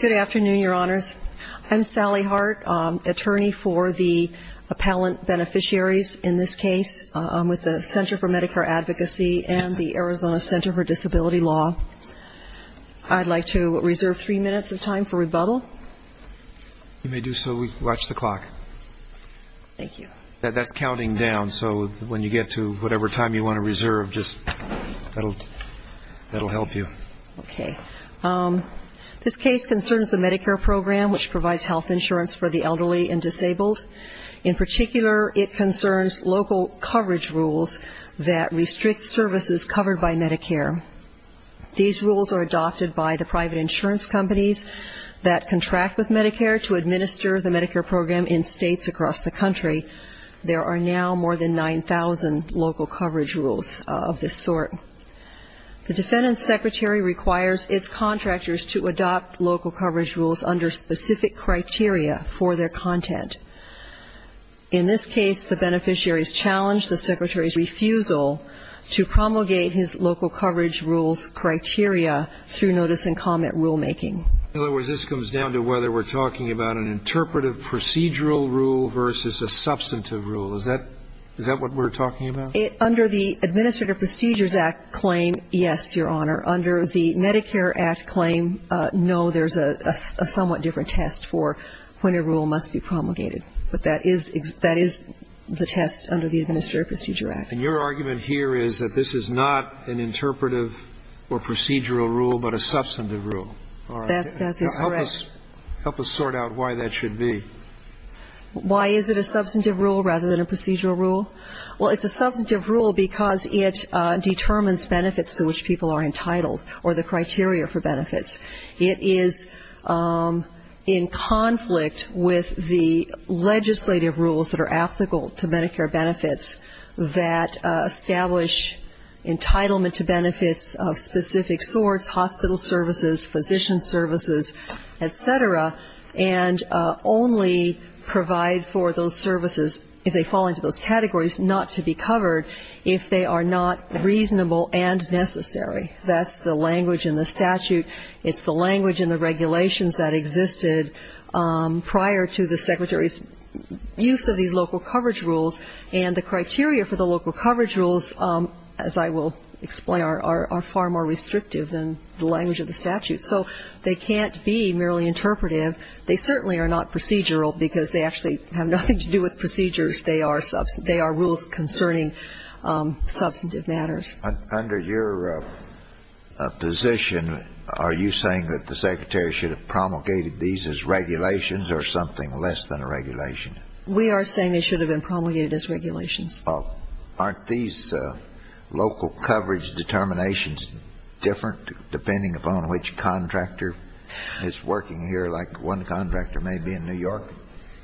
Good afternoon, Your Honors. I'm Sally Hart, attorney for the appellant beneficiaries in this case with the Center for Medicare Advocacy and the Arizona Center for Disability Law. I'd like to reserve three minutes of time for rebuttal. You may do so. Watch the clock. Thank you. That's counting down, so when you get to whatever time you want to reserve, that'll help you. Okay. This case concerns the Medicare program, which provides health insurance for the elderly and disabled. In particular, it concerns local coverage rules that restrict services covered by Medicare. These rules are adopted by the private insurance companies that contract with Medicare to administer the Medicare program in states across the country. There are now more than 9,000 local coverage rules of this sort. The defendant's secretary requires its contractors to adopt local coverage rules under specific criteria for their content. In this case, the beneficiaries challenge the secretary's refusal to promulgate his local coverage rules criteria through notice and comment rulemaking. In other words, this comes down to whether we're talking about an interpretive procedural rule versus a substantive rule. Is that what we're talking about? Under the Administrative Procedures Act claim, yes, Your Honor. Under the Medicare Act claim, no, there's a somewhat different test for when a rule must be promulgated. But that is the test under the Administrative Procedure Act. And your argument here is that this is not an interpretive or procedural rule, but a substantive rule. That's correct. Help us sort out why that should be. Why is it a substantive rule rather than a procedural rule? Well, it's a substantive rule because it determines benefits to which people are entitled or the criteria for benefits. It is in conflict with the legislative rules that are applicable to Medicare benefits that establish entitlement to benefits of specific sorts, hospital services, physician services, et cetera, and only provide for those services, if they fall into those categories, not to be covered if they are not reasonable and necessary. That's the language in the statute. It's the language in the regulations that existed prior to the Secretary's use of these local coverage rules. And the criteria for the local coverage rules, as I will explain, are far more restrictive than the language of the statute. So they can't be merely interpretive. They certainly are not procedural because they actually have nothing to do with procedures. They are rules concerning substantive matters. Under your position, are you saying that the Secretary should have promulgated these as regulations or something less than a regulation? We are saying it should have been promulgated as regulations. Aren't these local coverage determinations different depending upon which contractor is working here? Like one contractor may be in New York,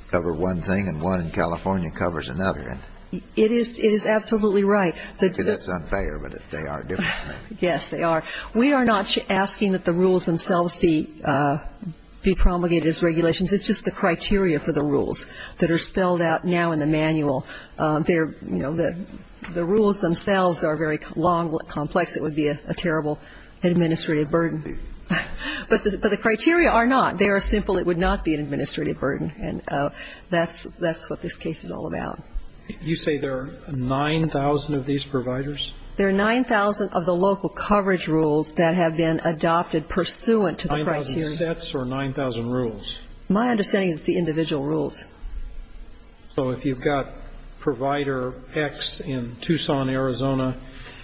cover one thing, and one in California covers another. It is absolutely right. That's unfair, but they are different. Yes, they are. We are not asking that the rules themselves be promulgated as regulations. It's just the criteria for the rules that are spelled out now in the manual. They're, you know, the rules themselves are very long, complex. It would be a terrible administrative burden. But the criteria are not. They are simple. It would not be an administrative burden. And that's what this case is all about. You say there are 9,000 of these providers? There are 9,000 of the local coverage rules that have been adopted pursuant to the criteria. 9,000 sets or 9,000 rules? My understanding is it's the individual rules. So if you've got Provider X in Tucson, Arizona,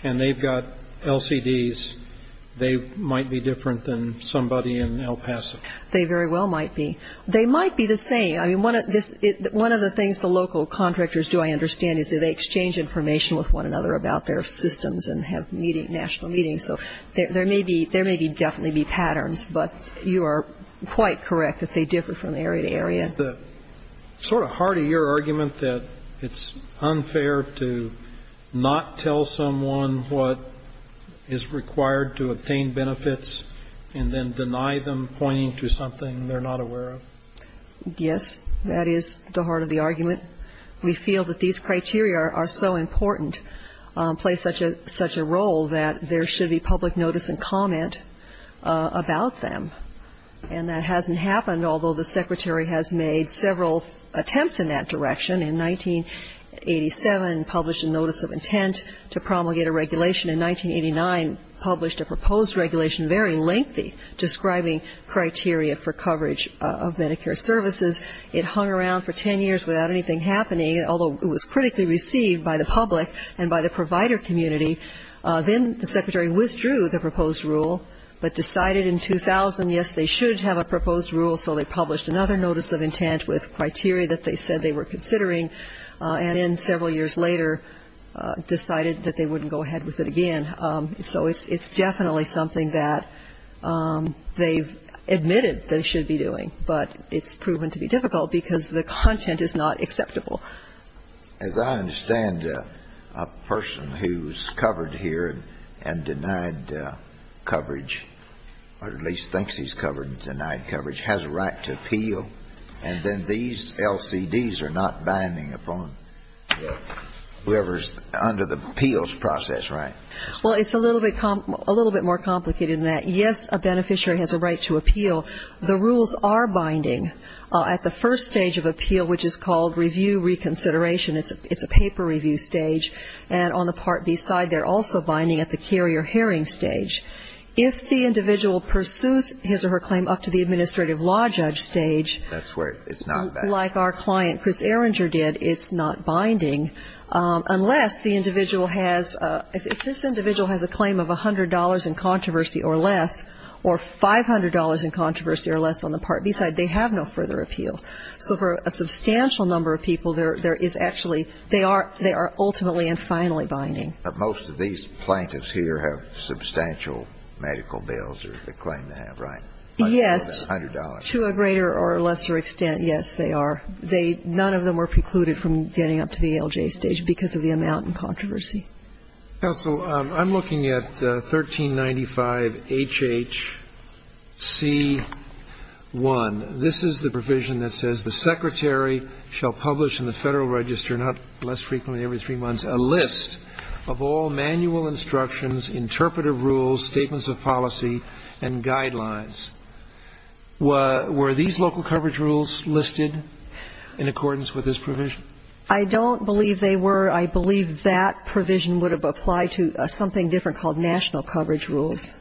and they've got LCDs, they might be different than somebody in El Paso? They very well might be. They might be the same. I mean, one of the things the local contractors do, I understand, is they exchange information with one another about their systems and have meetings, national meetings. So there may be definitely be patterns, but you are quite correct that they differ from area to area. Is the sort of heart of your argument that it's unfair to not tell someone what is required to obtain benefits and then deny them pointing to something they're not aware of? Yes, that is the heart of the argument. We feel that these criteria are so important, play such a role, that there should be public notice and comment about them. And that hasn't happened, although the Secretary has made several attempts in that direction. In 1987, published a notice of intent to promulgate a regulation. In 1989, published a proposed regulation, very lengthy, describing criteria for coverage of Medicare services. It hung around for ten years without anything happening, although it was critically received by the public and by the provider community. Then the Secretary withdrew the proposed rule, but decided in 2000, yes, they should have a proposed rule, so they published another notice of intent with criteria that they said they were considering. And then several years later, decided that they wouldn't go ahead with it again. So it's definitely something that they've admitted they should be doing, but it's proven to be difficult because the content is not acceptable. As I understand, a person who's covered here and denied coverage, or at least thinks he's covered and denied coverage, has a right to appeal, and then these LCDs are not binding upon whoever's under the appeals process, right? Well, it's a little bit more complicated than that. Yes, a beneficiary has a right to appeal. The rules are binding at the first stage of appeal, which is called review reconsideration. It's a paper review stage. And on the Part B side, they're also binding at the carrier hearing stage. If the individual pursues his or her claim up to the administrative law judge stage. That's where it's not binding. Like our client, Chris Erringer, did, it's not binding unless the individual has ‑‑ if this individual has a claim of $100 in controversy or less, or $500 in controversy or less on the Part B side, they have no further appeal. So for a substantial number of people, there is actually ‑‑ they are ultimately and finally binding. But most of these plaintiffs here have substantial medical bills, or they claim to have, right? Yes. $100. To a greater or lesser extent, yes, they are. They ‑‑ none of them were precluded from getting up to the ALJ stage because of the amount in controversy. Counsel, I'm looking at 1395HHC1. This is the provision that says, in the Federal Register, not less frequently, every three months, a list of all manual instructions, interpretive rules, statements of policy, and guidelines. Were these local coverage rules listed in accordance with this provision? I don't believe they were. I believe that provision would have applied to something different called national coverage rules.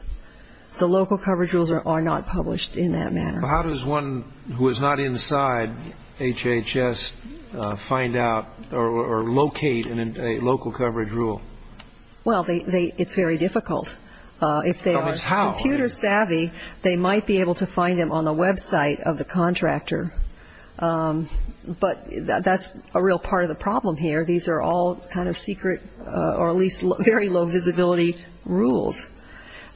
The local coverage rules are not published in that manner. How does one who is not inside HHS find out or locate a local coverage rule? Well, it's very difficult. If they are computer savvy, they might be able to find them on the website of the contractor. But that's a real part of the problem here. These are all kind of secret or at least very low visibility rules.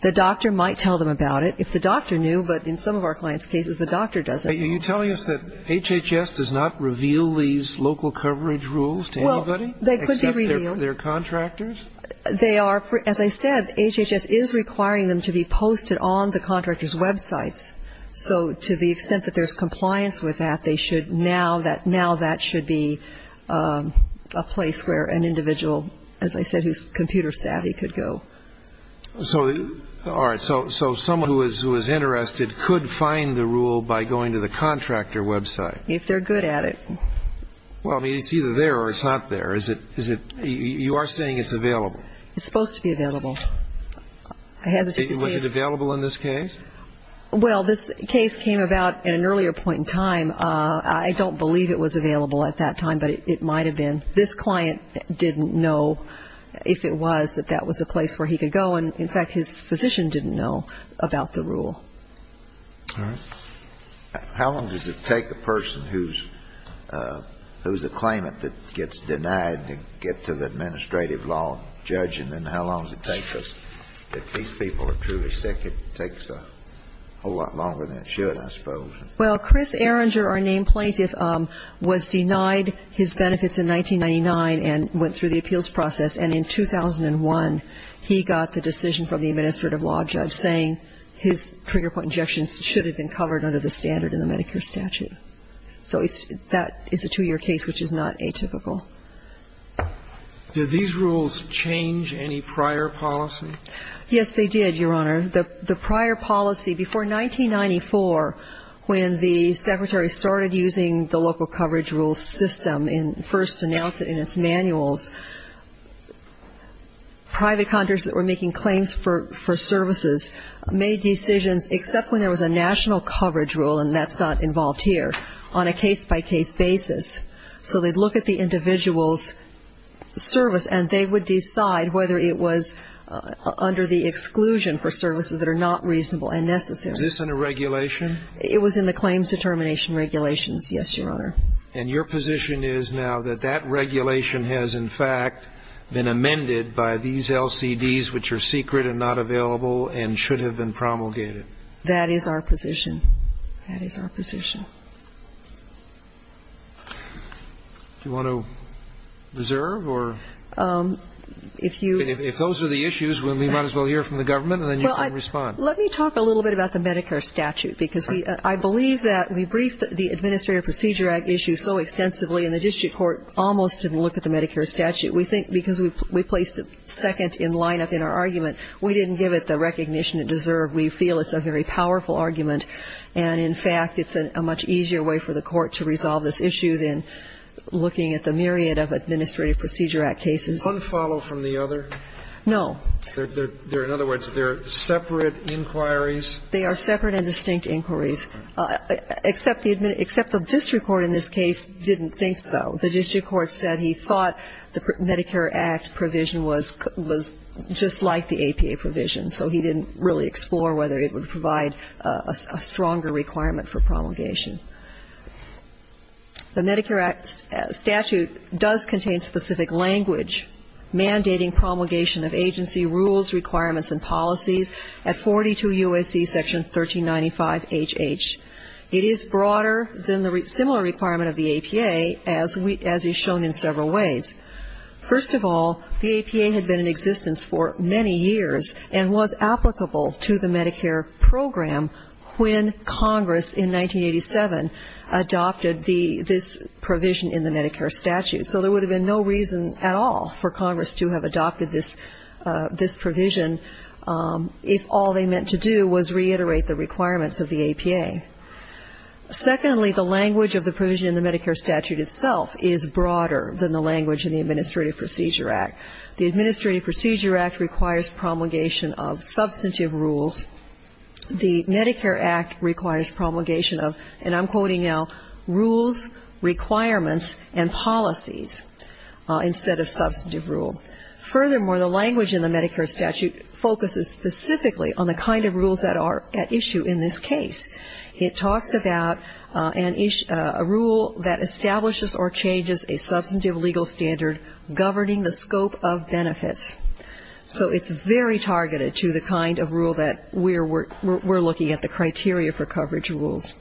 The doctor might tell them about it. If the doctor knew, but in some of our clients' cases, the doctor doesn't. Are you telling us that HHS does not reveal these local coverage rules to anybody? Well, they could be revealed. Except they're contractors? They are. As I said, HHS is requiring them to be posted on the contractor's websites. So to the extent that there's compliance with that, they should now that should be a place where an individual, as I said, who's computer savvy could go. All right. So someone who is interested could find the rule by going to the contractor website? If they're good at it. Well, I mean, it's either there or it's not there. You are saying it's available? It's supposed to be available. Was it available in this case? Well, this case came about at an earlier point in time. I don't believe it was available at that time, but it might have been. And this client didn't know if it was, that that was a place where he could go. And, in fact, his physician didn't know about the rule. All right. How long does it take a person who's a claimant that gets denied to get to the administrative law judge? And then how long does it take us that these people are truly sick? It takes a whole lot longer than it should, I suppose. Well, Chris Erringer, our named plaintiff, was denied his benefits in 1999 and went through the appeals process. And in 2001, he got the decision from the administrative law judge saying his trigger point injections should have been covered under the standard in the Medicare statute. So that is a two-year case, which is not atypical. Did these rules change any prior policy? Yes, they did, Your Honor. The prior policy before 1994, when the secretary started using the local coverage rule system and first announced it in its manuals, private contractors that were making claims for services made decisions, except when there was a national coverage rule, and that's not involved here, on a case-by-case basis. So they'd look at the individual's service and they would decide whether it was under the exclusion for services that are not reasonable and necessary. Is this under regulation? It was in the claims determination regulations, yes, Your Honor. And your position is now that that regulation has, in fact, been amended by these LCDs, which are secret and not available and should have been promulgated? That is our position. That is our position. Do you want to reserve or? If those are the issues, we might as well hear from the government and then you can respond. Well, let me talk a little bit about the Medicare statute. Because I believe that we briefed the Administrative Procedure Act issue so extensively and the district court almost didn't look at the Medicare statute. We think because we placed the second in lineup in our argument, we didn't give it the recognition it deserved. We feel it's a very powerful argument. And, in fact, it's a much easier way for the court to resolve this issue than looking at the myriad of Administrative Procedure Act cases. Unfollow from the other? No. In other words, they're separate inquiries? They are separate and distinct inquiries, except the district court in this case didn't think so. The district court said he thought the Medicare Act provision was just like the APA provision, so he didn't really explore whether it would provide a stronger requirement for promulgation. The Medicare Act statute does contain specific language mandating promulgation of agency rules, requirements, and policies at 42 UAC Section 1395HH. It is broader than the similar requirement of the APA, as is shown in several ways. First of all, the APA had been in existence for many years and was applicable to the Medicare program when Congress in 1987 adopted this provision in the Medicare statute. So there would have been no reason at all for Congress to have adopted this provision if all they meant to do was reiterate the requirements of the APA. Secondly, the language of the provision in the Medicare statute itself is broader than the language in the Administrative Procedure Act. The Administrative Procedure Act requires promulgation of substantive rules. The Medicare Act requires promulgation of, and I'm quoting now, rules, requirements, and policies, instead of substantive rule. Furthermore, the language in the Medicare statute focuses specifically on the kind of rules that are at issue in this case. It talks about a rule that establishes or changes a substantive legal standard governing the scope of benefits. So it's very targeted to the kind of rule that we're looking at, the criteria for coverage rules.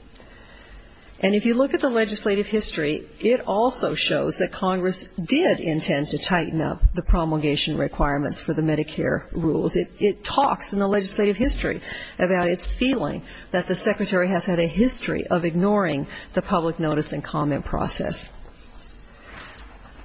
And if you look at the legislative history, it also shows that Congress did intend to tighten up the promulgation requirements for the Medicare rules. It talks in the legislative history about its feeling that the Secretary has had a history of ignoring the public notice and comment process.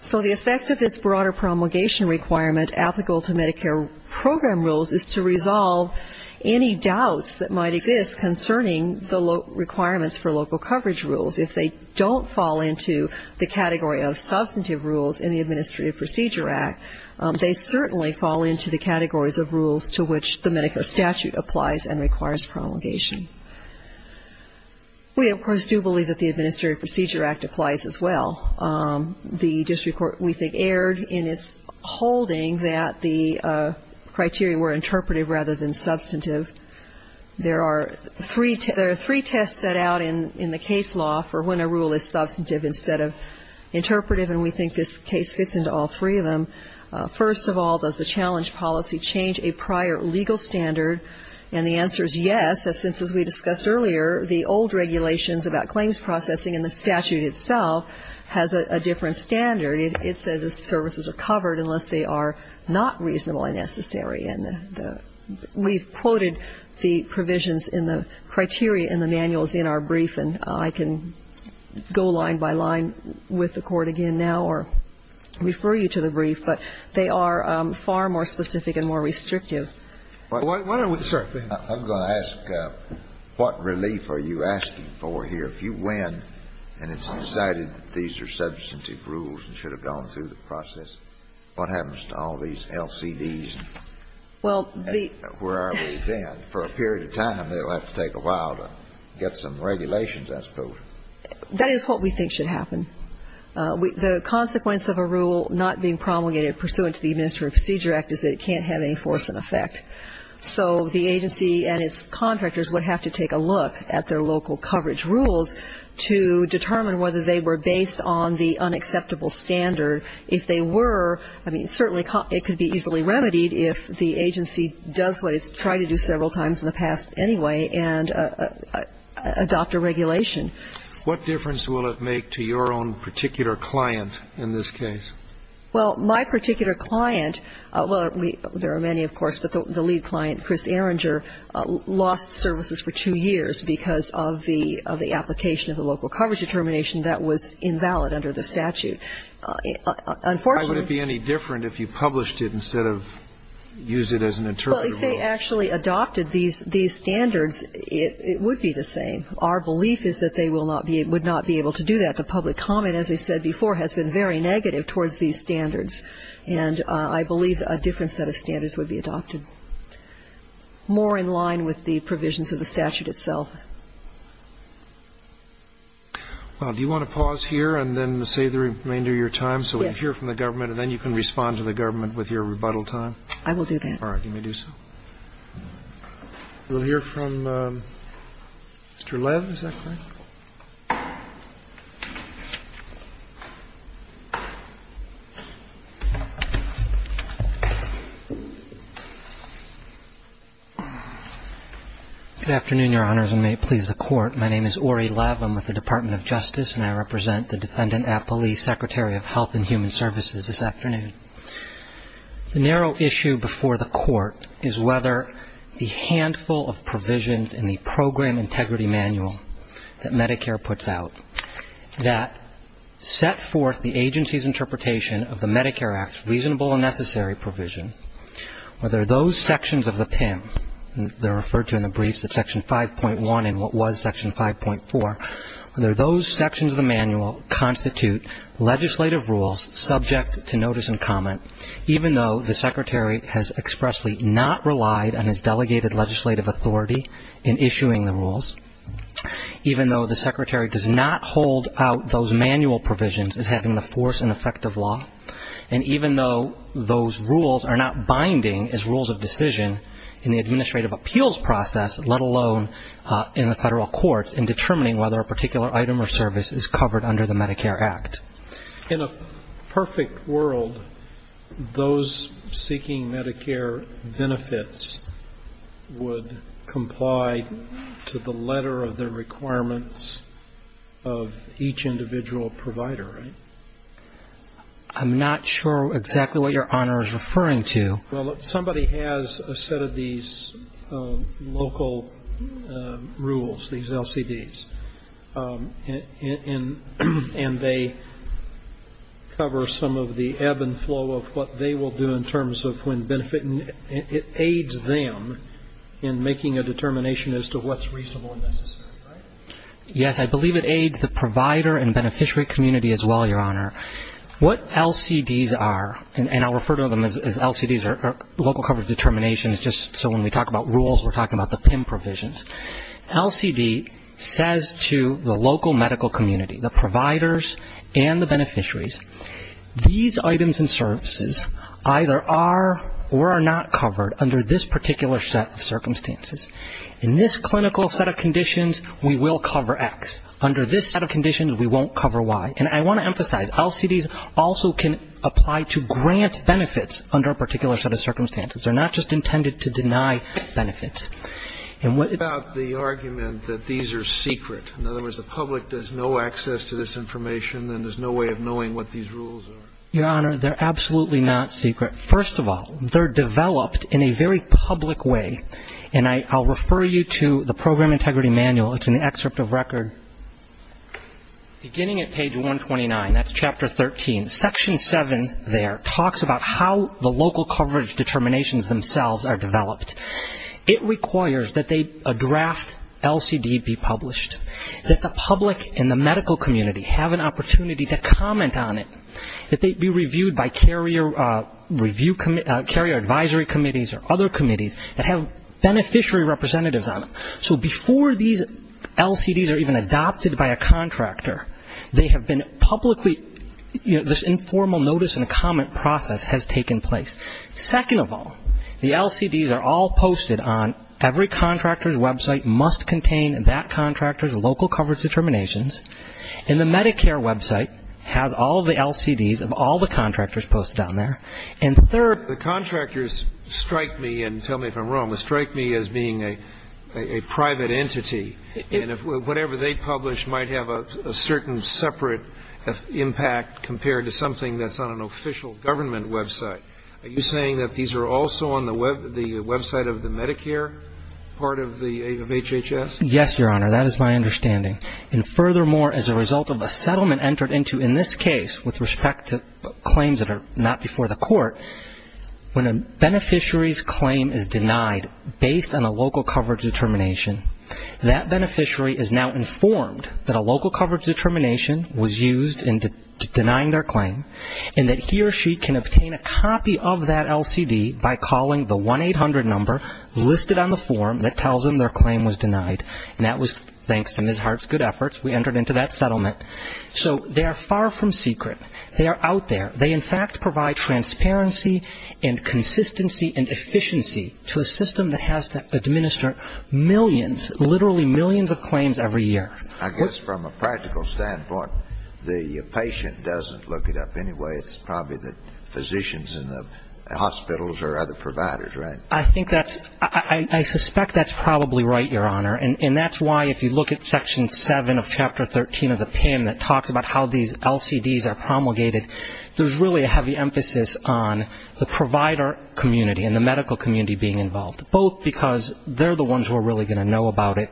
So the effect of this broader promulgation requirement applicable to Medicare program rules is to resolve any doubts that might exist concerning the requirements for local coverage rules. If they don't fall into the category of substantive rules in the Administrative Procedure Act, they certainly fall into the categories of rules to which the Medicare statute applies and requires promulgation. We, of course, do believe that the Administrative Procedure Act applies as well. The district court, we think, erred in its holding that the criteria were interpretive rather than substantive. There are three tests set out in the case law for when a rule is substantive instead of interpretive, and we think this case fits into all three of them. First of all, does the challenge policy change a prior legal standard? And the answer is yes, since, as we discussed earlier, the old regulations about claims processing and the statute itself has a different standard. It says the services are covered unless they are not reasonably necessary. And we've quoted the provisions in the criteria in the manuals in our brief, and I can go line by line with the Court again now or refer you to the brief, but they are far more specific and more restrictive. I'm going to ask what relief are you asking for here? If you win and it's decided that these are substantive rules and should have gone through the process, what happens to all these LCDs and where are we then? And for a period of time, they'll have to take a while to get some regulations, I suppose. That is what we think should happen. The consequence of a rule not being promulgated pursuant to the Administrative Procedure Act is that it can't have any force and effect. So the agency and its contractors would have to take a look at their local coverage rules to determine whether they were based on the unacceptable standard. If they were, I mean, certainly it could be easily remedied if the agency does what it has done several times in the past anyway and adopt a regulation. What difference will it make to your own particular client in this case? Well, my particular client, well, there are many, of course, but the lead client, Chris Erringer, lost services for two years because of the application of the local coverage determination that was invalid under the statute. Unfortunately ---- Why would it be any different if you published it instead of use it as an interpretable rule? If they actually adopted these standards, it would be the same. Our belief is that they would not be able to do that. The public comment, as I said before, has been very negative towards these standards. And I believe a different set of standards would be adopted, more in line with the provisions of the statute itself. Well, do you want to pause here and then save the remainder of your time so we can hear from the government and then you can respond to the government with your rebuttal I will do that. All right. You may do so. We'll hear from Mr. Lev. Is that correct? Good afternoon, Your Honors, and may it please the Court. My name is Ori Lev. I'm with the Department of Justice, and I represent the defendant at police, Secretary of Health and Human Services, this afternoon. The narrow issue before the Court is whether the handful of provisions in the Program Integrity Manual that Medicare puts out that set forth the agency's interpretation of the Medicare Act's reasonable and necessary provision, whether those sections of the PIM, they're referred to in the briefs as Section 5.1 and what was Section 5.4, whether those sections of the manual constitute legislative rules subject to notice and comment, even though the Secretary has expressly not relied on his delegated legislative authority in issuing the rules, even though the Secretary does not hold out those manual provisions as having the force and effect of law, and even though those rules are not binding as rules of decision in the administrative appeals process, let alone in the federal courts, in determining whether a particular item or service is covered under the Medicare Act. In a perfect world, those seeking Medicare benefits would comply to the letter of the requirements of each individual provider, right? I'm not sure exactly what Your Honor is referring to. Well, somebody has a set of these local rules, these LCDs. And they cover some of the ebb and flow of what they will do in terms of when benefiting. It aids them in making a determination as to what's reasonable and necessary, right? Yes. I believe it aids the provider and beneficiary community as well, Your Honor. What LCDs are, and I'll refer to them as LCDs or local coverage determinations, just so when we talk about rules, we're talking about the PIM provisions. LCD says to the local medical community, the providers and the beneficiaries, these items and services either are or are not covered under this particular set of circumstances. In this clinical set of conditions, we will cover X. Under this set of conditions, we won't cover Y. And I want to emphasize, LCDs also can apply to grant benefits under a particular set of circumstances. They're not just intended to deny benefits. And what about the argument that these are secret? In other words, the public has no access to this information and there's no way of knowing what these rules are. Your Honor, they're absolutely not secret. First of all, they're developed in a very public way. And I'll refer you to the Program Integrity Manual. It's in the excerpt of record. Beginning at page 129, that's Chapter 13, Section 7 there talks about how the local coverage determinations themselves are developed. It requires that a draft LCD be published, that the public and the medical community have an opportunity to comment on it, that they be reviewed by carrier advisory committees or other committees that have beneficiary representatives on them. So before these LCDs are even adopted by a contractor, they have been publicly, you know, this informal notice and comment process has taken place. Second of all, the LCDs are all posted on every contractor's website must contain that contractor's local coverage determinations. And the Medicare website has all the LCDs of all the contractors posted on there. And third, the contractors strike me, and tell me if I'm wrong, they strike me as being a private entity. And whatever they publish might have a certain separate impact compared to something that's on an official government website. Are you saying that these are also on the website of the Medicare part of HHS? Yes, Your Honor. That is my understanding. And furthermore, as a result of a settlement entered into in this case with respect to claims that are not before the court, when a beneficiary's claim is denied based on a local coverage determination, that beneficiary is now informed that a local coverage determination was used in denying their claim, and that he or she can obtain a copy of that LCD by calling the 1-800 number listed on the form that tells them their claim was denied. And that was thanks to Ms. Hart's good efforts, we entered into that settlement. So they are far from secret. They are out there. They, in fact, provide transparency and consistency and efficiency to a system that has to administer millions, literally millions of claims every year. I guess from a practical standpoint, the patient doesn't look it up anyway. It's probably the physicians in the hospitals or other providers, right? I think that's – I suspect that's probably right, Your Honor. And that's why if you look at Section 7 of Chapter 13 of the PIM that talks about how these LCDs are promulgated, there's really a heavy emphasis on the provider community and the medical community being involved, both because they're the ones who are really going to know about it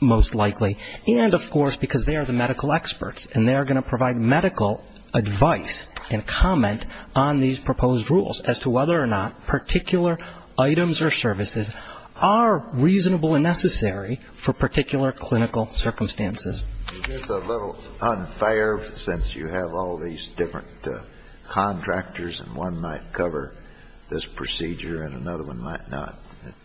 most likely, and, of course, because they are the medical experts, and they are going to provide medical advice and comment on these proposed rules as to whether or not particular items or services are reasonable and necessary for particular clinical circumstances. Is this a little unfair since you have all these different contractors and one might cover this procedure and another one might not?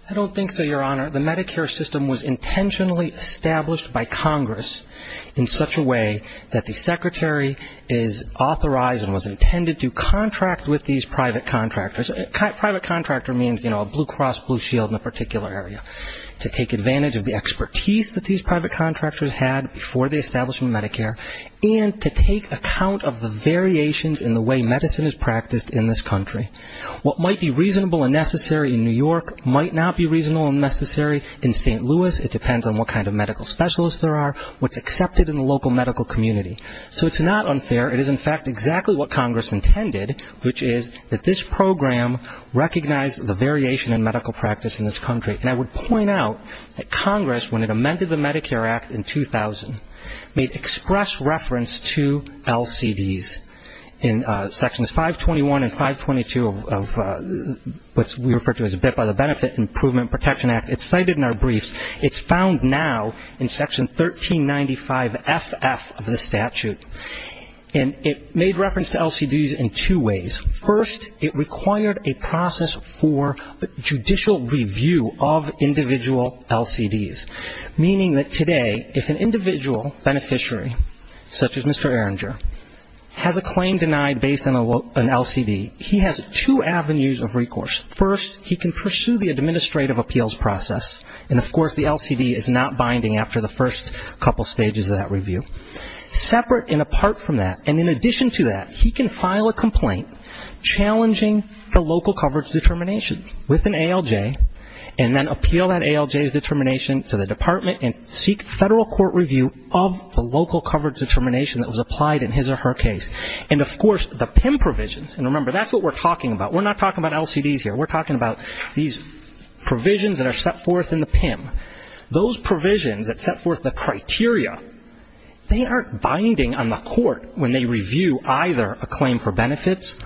I don't think so, Your Honor. The Medicare system was intentionally established by Congress in such a way that the Secretary is authorized and was intended to contract with these private contractors. Private contractor means, you know, a blue cross, blue shield in a particular area, to take advantage of the expertise that these private contractors had before they established Medicare and to take account of the variations in the way medicine is practiced in this country. What might be reasonable and necessary in New York might not be reasonable and necessary in St. Louis. It depends on what kind of medical specialists there are, what's accepted in the local medical community. So it's not unfair. It is, in fact, exactly what Congress intended, which is that this program recognized the variation in medical practice in this country. And I would point out that Congress, when it amended the Medicare Act in 2000, made express reference to LCDs in Sections 521 and 522 of what we refer to as a bit by the Benefit Improvement Protection Act. It's cited in our briefs. It's found now in Section 1395FF of the statute. And it made reference to LCDs in two ways. First, it required a process for judicial review of individual LCDs, meaning that today if an individual beneficiary, such as Mr. Erringer, has a claim denied based on an LCD, he has two avenues of recourse. First, he can pursue the administrative appeals process. And, of course, the LCD is not binding after the first couple stages of that review. Separate and apart from that, and in addition to that, he can file a complaint challenging the local coverage determination with an ALJ and then appeal that ALJ's determination to the department and seek federal court review of the local coverage determination that was applied in his or her case. And, of course, the PIM provisions, and remember, that's what we're talking about. We're not talking about LCDs here. We're talking about these provisions that are set forth in the PIM. Those provisions that set forth the criteria, they aren't binding on the court when they review either a claim for benefits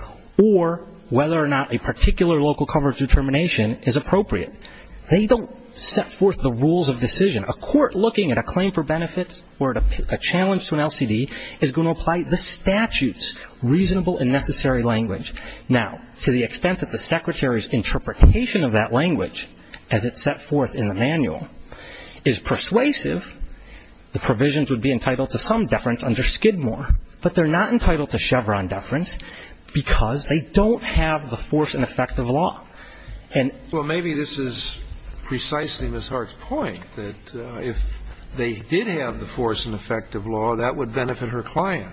or whether or not a particular local coverage determination is appropriate. They don't set forth the rules of decision. A court looking at a claim for benefits or a challenge to an LCD is going to apply the statute's reasonable and necessary language. Now, to the extent that the Secretary's interpretation of that language as it's set forth in the manual is persuasive, the provisions would be entitled to some deference under Skidmore. But they're not entitled to Chevron deference because they don't have the force and effect of law. And so maybe this is precisely Ms. Hart's point, that if they did have the force and effect of law, that would benefit her client.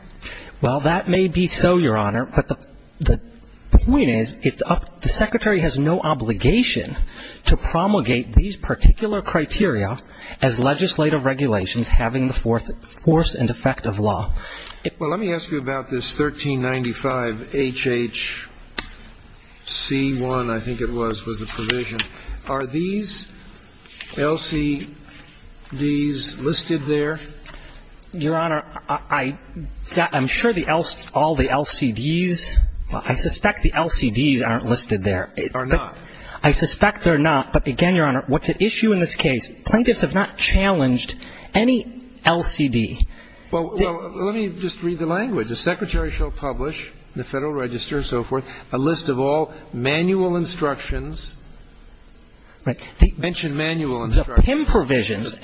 Well, that may be so, Your Honor. But the point is it's up to the Secretary has no obligation to promulgate these particular criteria as legislative regulations having the force and effect of law. Well, let me ask you about this 1395HHC1, I think it was, was the provision. Are these LCDs listed there? Your Honor, I'm sure all the LCDs, I suspect the LCDs aren't listed there. Are not. I suspect they're not. But again, Your Honor, what's at issue in this case, plaintiffs have not challenged any LCD. Well, let me just read the language. The Secretary shall publish in the Federal Register and so forth a list of all manual instructions. Right. Mention manual instructions. The PIM provisions.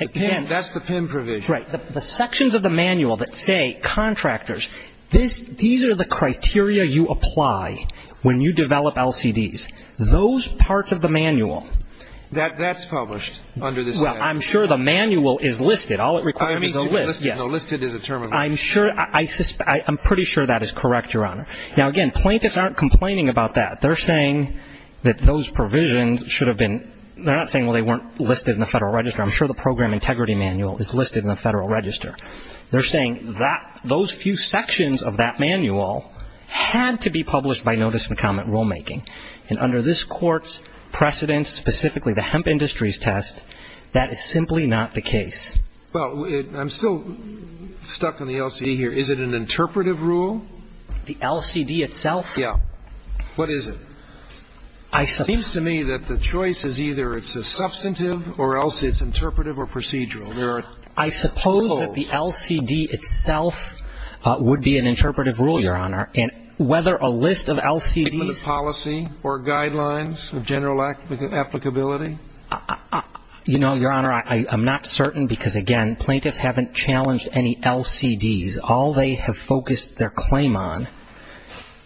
That's the PIM provisions. Right. The sections of the manual that say contractors. These are the criteria you apply when you develop LCDs. Those parts of the manual. That's published under this statute. Well, I'm sure the manual is listed. All it requires is a list. Listed is a term of reference. I'm pretty sure that is correct, Your Honor. Now, again, plaintiffs aren't complaining about that. They're saying that those provisions should have been, they're not saying, well, they weren't listed in the Federal Register. I'm sure the program integrity manual is listed in the Federal Register. They're saying that those few sections of that manual had to be published by notice and comment rulemaking. And under this Court's precedence, specifically the Hemp Industries test, that is simply not the case. Well, I'm still stuck on the LCD here. Is it an interpretive rule? The LCD itself? Yeah. What is it? It seems to me that the choice is either it's a substantive or it's interpretive or procedural. I suppose that the LCD itself would be an interpretive rule, Your Honor. And whether a list of LCDs. Given the policy or guidelines of general applicability? You know, Your Honor, I'm not certain because, again, plaintiffs haven't challenged any LCDs. All they have focused their claim on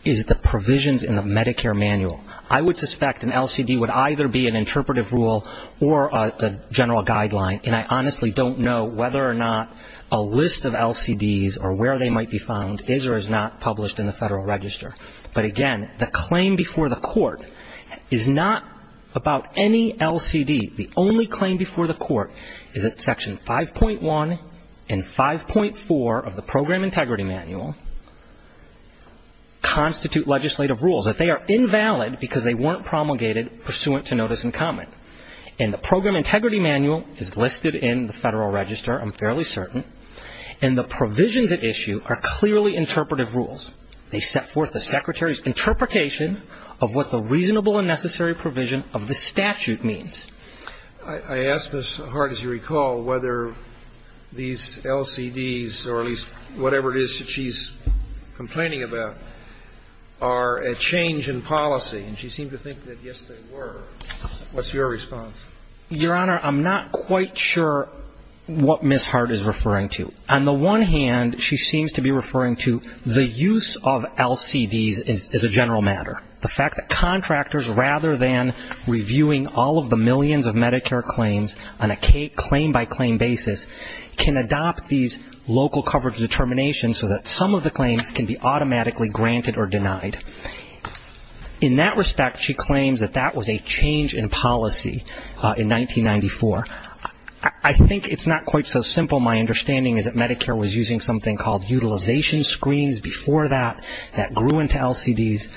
is the provisions in the Medicare manual. I would suspect an LCD would either be an interpretive rule or a general guideline, and I honestly don't know whether or not a list of LCDs or where they might be found is or is not published in the Federal Register. But, again, the claim before the Court is not about any LCD. The only claim before the Court is that Section 5.1 and 5.4 of the Program Integrity Manual constitute legislative rules, that they are invalid because they weren't promulgated pursuant to notice and comment. And the Program Integrity Manual is listed in the Federal Register, I'm fairly certain. And the provisions at issue are clearly interpretive rules. They set forth the Secretary's interpretation of what the reasonable and necessary provision of the statute means. I ask Ms. Hart, as you recall, whether these LCDs, or at least whatever it is that she's complaining about, are a change in policy. And she seemed to think that, yes, they were. What's your response? Your Honor, I'm not quite sure what Ms. Hart is referring to. On the one hand, she seems to be referring to the use of LCDs as a general matter, the fact that contractors, rather than reviewing all of the millions of Medicare claims on a claim-by-claim basis, can adopt these local coverage determinations so that some of the claims can be automatically granted or denied. In that respect, she claims that that was a change in policy in 1994. I think it's not quite so simple. My understanding is that Medicare was using something called utilization screens before that. That grew into LCDs.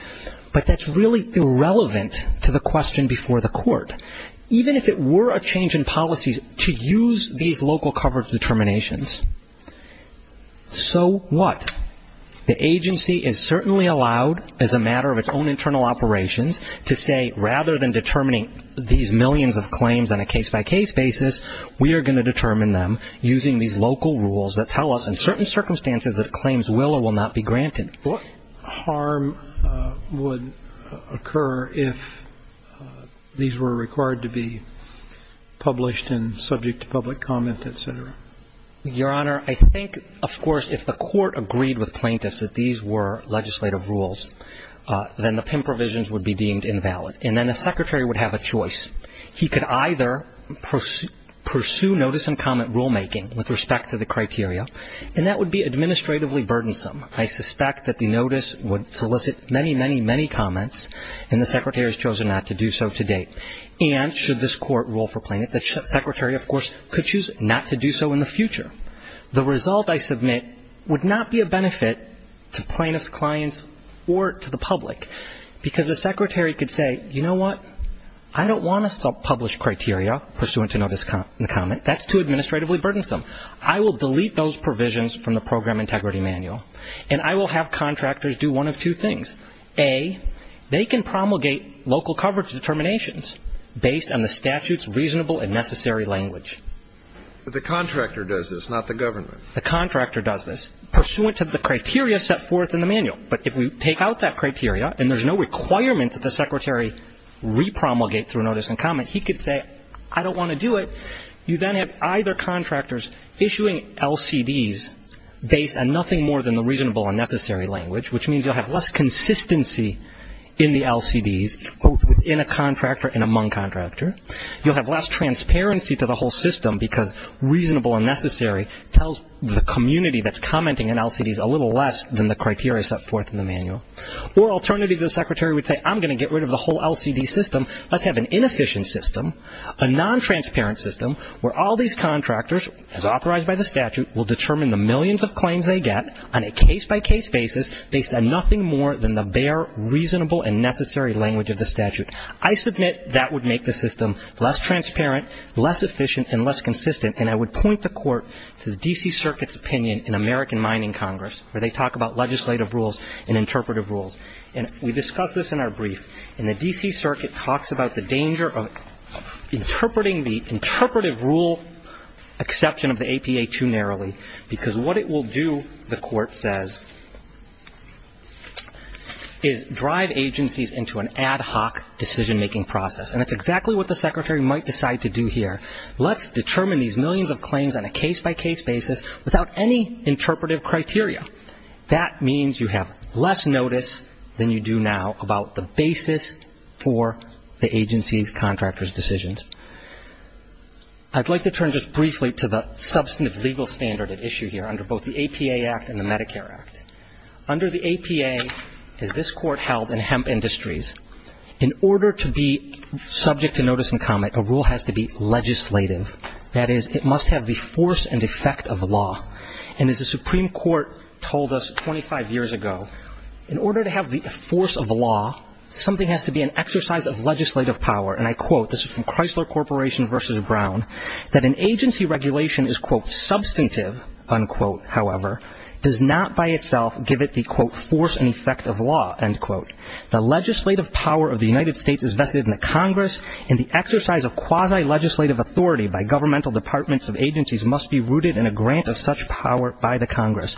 But that's really irrelevant to the question before the Court. Even if it were a change in policies to use these local coverage determinations, so what? The agency is certainly allowed, as a matter of its own internal operations, to say rather than determining these millions of claims on a case-by-case basis, we are going to determine them using these local rules that tell us, in certain circumstances, that claims will or will not be granted. But harm would occur if these were required to be published and subject to public comment, et cetera. Your Honor, I think, of course, if the Court agreed with plaintiffs that these were legislative rules, then the PIM provisions would be deemed invalid. And then the Secretary would have a choice. He could either pursue notice and comment rulemaking with respect to the criteria, and that would be administratively burdensome. I suspect that the notice would solicit many, many, many comments, and the Secretary has chosen not to do so to date. And should this Court rule for plaintiffs, the Secretary, of course, could choose not to do so in the future. The result, I submit, would not be a benefit to plaintiffs' clients or to the public, because the Secretary could say, you know what, I don't want to publish criteria pursuant to notice and comment. That's too administratively burdensome. I will delete those provisions from the Program Integrity Manual, and I will have contractors do one of two things. A, they can promulgate local coverage determinations based on the statute's reasonable and necessary language. But the contractor does this, not the government. The contractor does this pursuant to the criteria set forth in the manual. But if we take out that criteria, and there's no requirement that the Secretary repromulgate through notice and comment, he could say, I don't want to do it. You then have either contractors issuing LCDs based on nothing more than the reasonable and necessary language, which means you'll have less consistency in the LCDs, both within a contractor and among contractor. You'll have less transparency to the whole system, because reasonable and necessary tells the community that's commenting on LCDs a little less than the criteria set forth in the manual. Or alternatively, the Secretary would say, I'm going to get rid of the whole LCD system. Let's have an inefficient system, a non-transparent system, where all these contractors, as authorized by the statute, will determine the millions of claims they get on a case-by-case basis based on nothing more than the bare, reasonable, and necessary language of the statute. I submit that would make the system less transparent, less efficient, and less consistent, and I would point the Court to the D.C. Circuit's opinion in American Mining Congress, where they talk about legislative rules and interpretive rules. And we discussed this in our brief. And the D.C. Circuit talks about the danger of interpreting the interpretive rule exception of the APA too narrowly, because what it will do, the Court says, is drive agencies into an ad hoc decision-making process. And that's exactly what the Secretary might decide to do here. Let's determine these millions of claims on a case-by-case basis without any interpretive criteria. That means you have less notice than you do now about the basis for the agency's contractors' decisions. I'd like to turn just briefly to the substantive legal standard at issue here under both the APA Act and the Medicare Act. Under the APA, as this Court held in Hemp Industries, in order to be subject to notice and comment, a rule has to be legislative. That is, it must have the force and effect of law. And as the Supreme Court told us 25 years ago, in order to have the force of law, something has to be an exercise of legislative power. And I quote, this is from Chrysler Corporation v. Brown, that an agency regulation is, quote, substantive, unquote, however, does not by itself give it the, quote, force and effect of law, end quote. The legislative power of the United States is vested in the Congress, and the exercise of quasi-legislative authority by governmental departments of agencies must be rooted in a grant of such power by the Congress.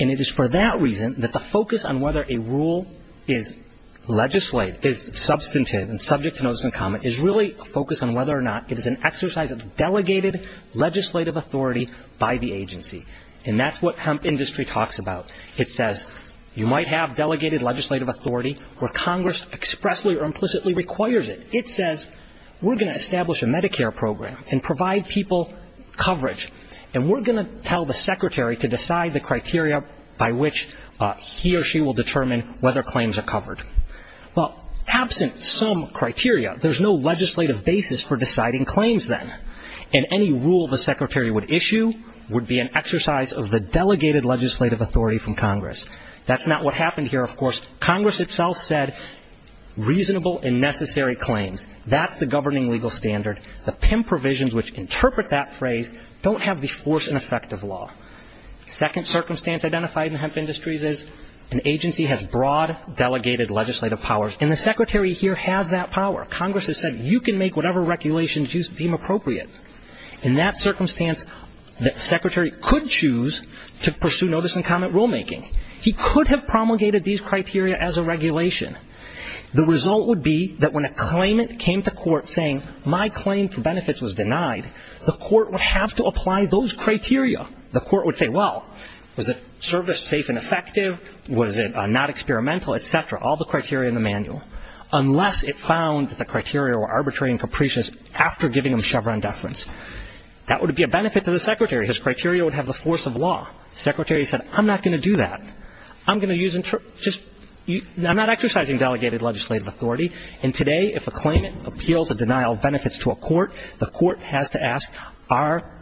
And it is for that reason that the focus on whether a rule is legislative, is substantive, and subject to notice and comment, is really a focus on whether or not it is an exercise of delegated legislative authority by the agency. And that's what Hemp Industries talks about. It says you might have delegated legislative authority where Congress expressly or implicitly requires it. It says we're going to establish a Medicare program and provide people coverage, and we're going to tell the secretary to decide the criteria by which he or she will determine whether claims are covered. Well, absent some criteria, there's no legislative basis for deciding claims then. And any rule the secretary would issue would be an exercise of the delegated legislative authority from Congress. That's not what happened here, of course. Congress itself said reasonable and necessary claims. That's the governing legal standard. The PIM provisions which interpret that phrase don't have the force and effect of law. Second circumstance identified in Hemp Industries is an agency has broad delegated legislative powers, and the secretary here has that power. Congress has said you can make whatever regulations you deem appropriate. In that circumstance, the secretary could choose to pursue notice and comment rulemaking. He could have promulgated these criteria as a regulation. The result would be that when a claimant came to court saying my claim for benefits was denied, the court would have to apply those criteria. The court would say, well, was the service safe and effective? Was it not experimental, et cetera, all the criteria in the manual, unless it found that the criteria were arbitrary and capricious after giving them Chevron deference. That would be a benefit to the secretary. His criteria would have the force of law. The secretary said, I'm not going to do that. I'm going to use just you – I'm not exercising delegated legislative authority. And today, if a claimant appeals a denial of benefits to a court, the court has to ask, are –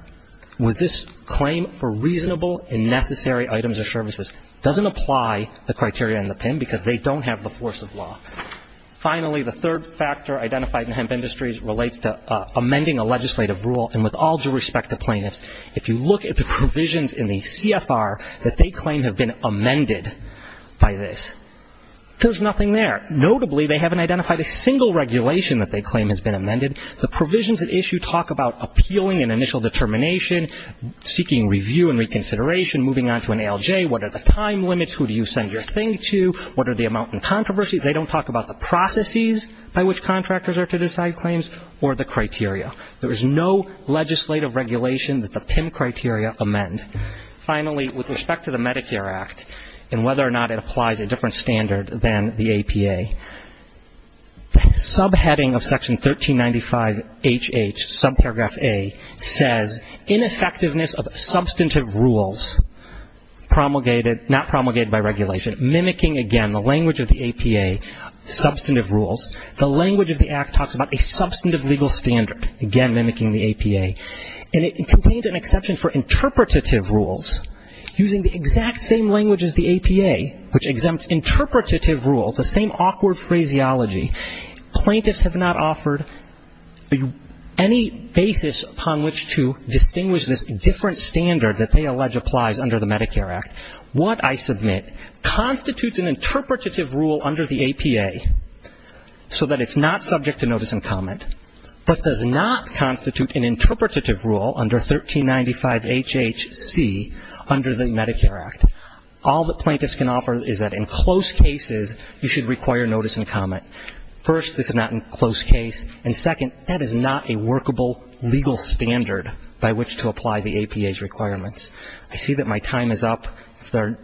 was this claim for reasonable and necessary items or services? Doesn't apply the criteria in the PIN because they don't have the force of law. Finally, the third factor identified in Hemp Industries relates to amending a legislative rule. And with all due respect to plaintiffs, if you look at the provisions in the CFR that they claim have been amended by this, there's nothing there. Notably, they haven't identified a single regulation that they claim has been amended. The provisions at issue talk about appealing an initial determination, seeking review and reconsideration, moving on to an ALJ, what are the time limits, who do you send your thing to, what are the amount in controversy. They don't talk about the processes by which contractors are to decide claims or the criteria. There is no legislative regulation that the PIN criteria amend. Finally, with respect to the Medicare Act and whether or not it applies a different standard than the APA, the subheading of Section 1395HH, subparagraph A, says, ineffectiveness of substantive rules promulgated – not promulgated by regulation, mimicking, again, the language of the APA, substantive rules. The language of the Act talks about a substantive legal standard, again, mimicking the APA. And it contains an exception for interpretative rules, using the exact same language as the APA, which exempts interpretative rules, the same awkward phraseology. Plaintiffs have not offered any basis upon which to distinguish this different standard that they allege applies under the Medicare Act. What I submit constitutes an interpretative rule under the APA so that it's not subject to notice and comment, but does not constitute an interpretative rule under 1395HHC under the Medicare Act. All that plaintiffs can offer is that in close cases you should require notice and comment. First, this is not a close case. And second, that is not a workable legal standard by which to apply the APA's requirements. I see that my time is up. If there are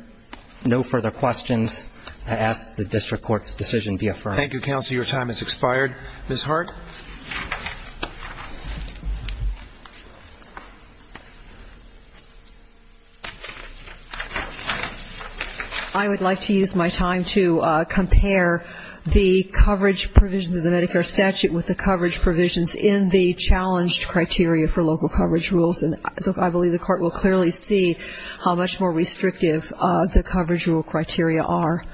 no further questions, I ask that the district court's decision be affirmed. Thank you, counsel. Your time has expired. Ms. Hart. I would like to use my time to compare the coverage provisions of the Medicare statute with the coverage provisions in the challenged criteria for local coverage rules. And I believe the court will clearly see how much more restrictive the coverage rule criteria are.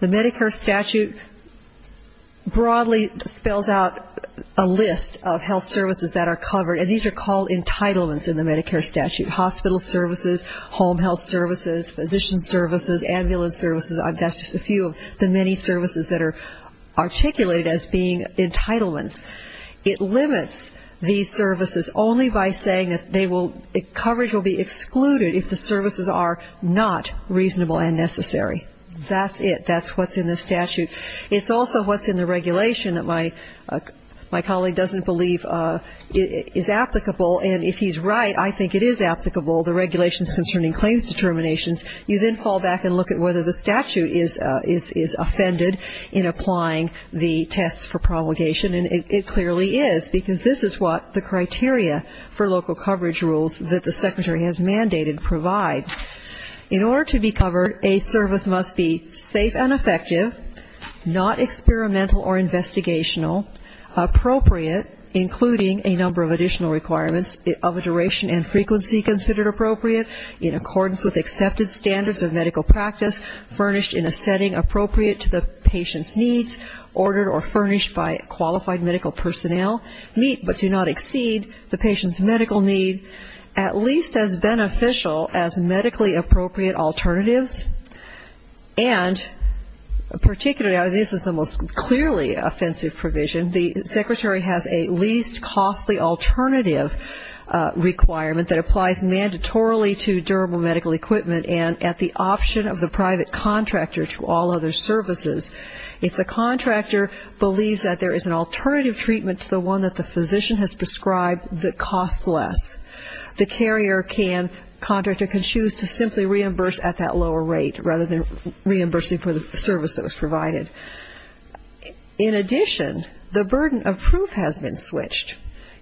The Medicare statute broadly spells out a list of health services that are covered, and these are called entitlements in the Medicare statute. Hospital services, home health services, physician services, ambulance services, that's just a few of the many services that are articulated as being entitlements. It limits these services only by saying that coverage will be excluded if the services are not reasonable and necessary. That's it. That's what's in the statute. It's also what's in the regulation that my colleague doesn't believe is applicable, and if he's right, I think it is applicable, the regulations concerning claims determinations. You then fall back and look at whether the statute is offended in applying the tests for promulgation, and it clearly is because this is what the criteria for local coverage rules that the secretary has mandated provide. In order to be covered, a service must be safe and effective, not experimental or investigational, appropriate, including a number of additional requirements of a duration and frequency considered appropriate, in accordance with accepted standards of medical practice, furnished in a setting appropriate to the patient's needs, ordered or furnished by qualified medical personnel, meet but do not exceed the patient's medical need, at least as beneficial as medically appropriate alternatives. And particularly, this is the most clearly offensive provision, the secretary has a least costly alternative requirement that applies mandatorily to durable medical equipment and at the option of the private contractor to all other services. If the contractor believes that there is an alternative treatment to the one that the physician has prescribed that costs less, the carrier can, contractor can choose to simply reimburse at that lower rate, rather than reimbursing for the service that was provided. In addition, the burden of proof has been switched.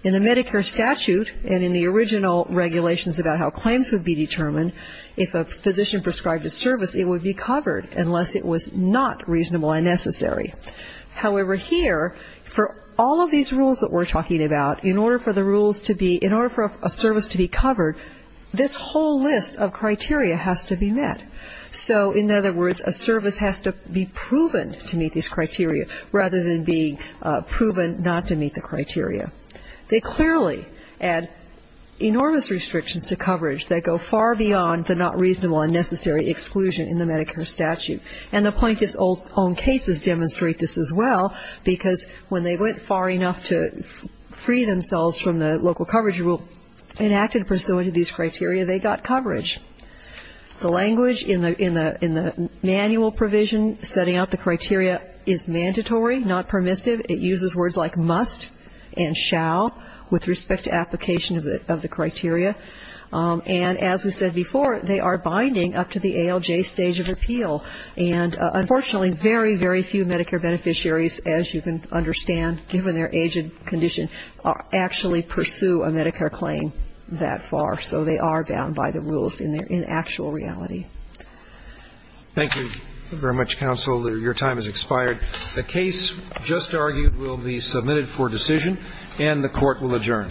In the Medicare statute and in the original regulations about how claims would be determined, if a physician prescribed a service, it would be covered unless it was not reasonable and necessary. However, here, for all of these rules that we're talking about, in order for the rules to be, in order for a service to be covered, this whole list of criteria has to be met. So, in other words, a service has to be proven to meet these criteria, rather than being proven not to meet the criteria. They clearly add enormous restrictions to coverage that go far beyond the not reasonable and necessary exclusion in the Medicare statute. And the plaintiffs' own cases demonstrate this as well, because when they went far enough to free themselves from the local coverage rule and acted pursuant to these criteria, they got coverage. The language in the manual provision setting out the criteria is mandatory, not permissive. It uses words like must and shall with respect to application of the criteria. And as we said before, they are binding up to the ALJ stage of appeal. And unfortunately, very, very few Medicare beneficiaries, as you can understand, given their age and condition, actually pursue a Medicare claim that far. So they are bound by the rules in actual reality. Thank you very much, counsel. Your time has expired. The case just argued will be submitted for decision, and the Court will adjourn. Thank you. Thank you.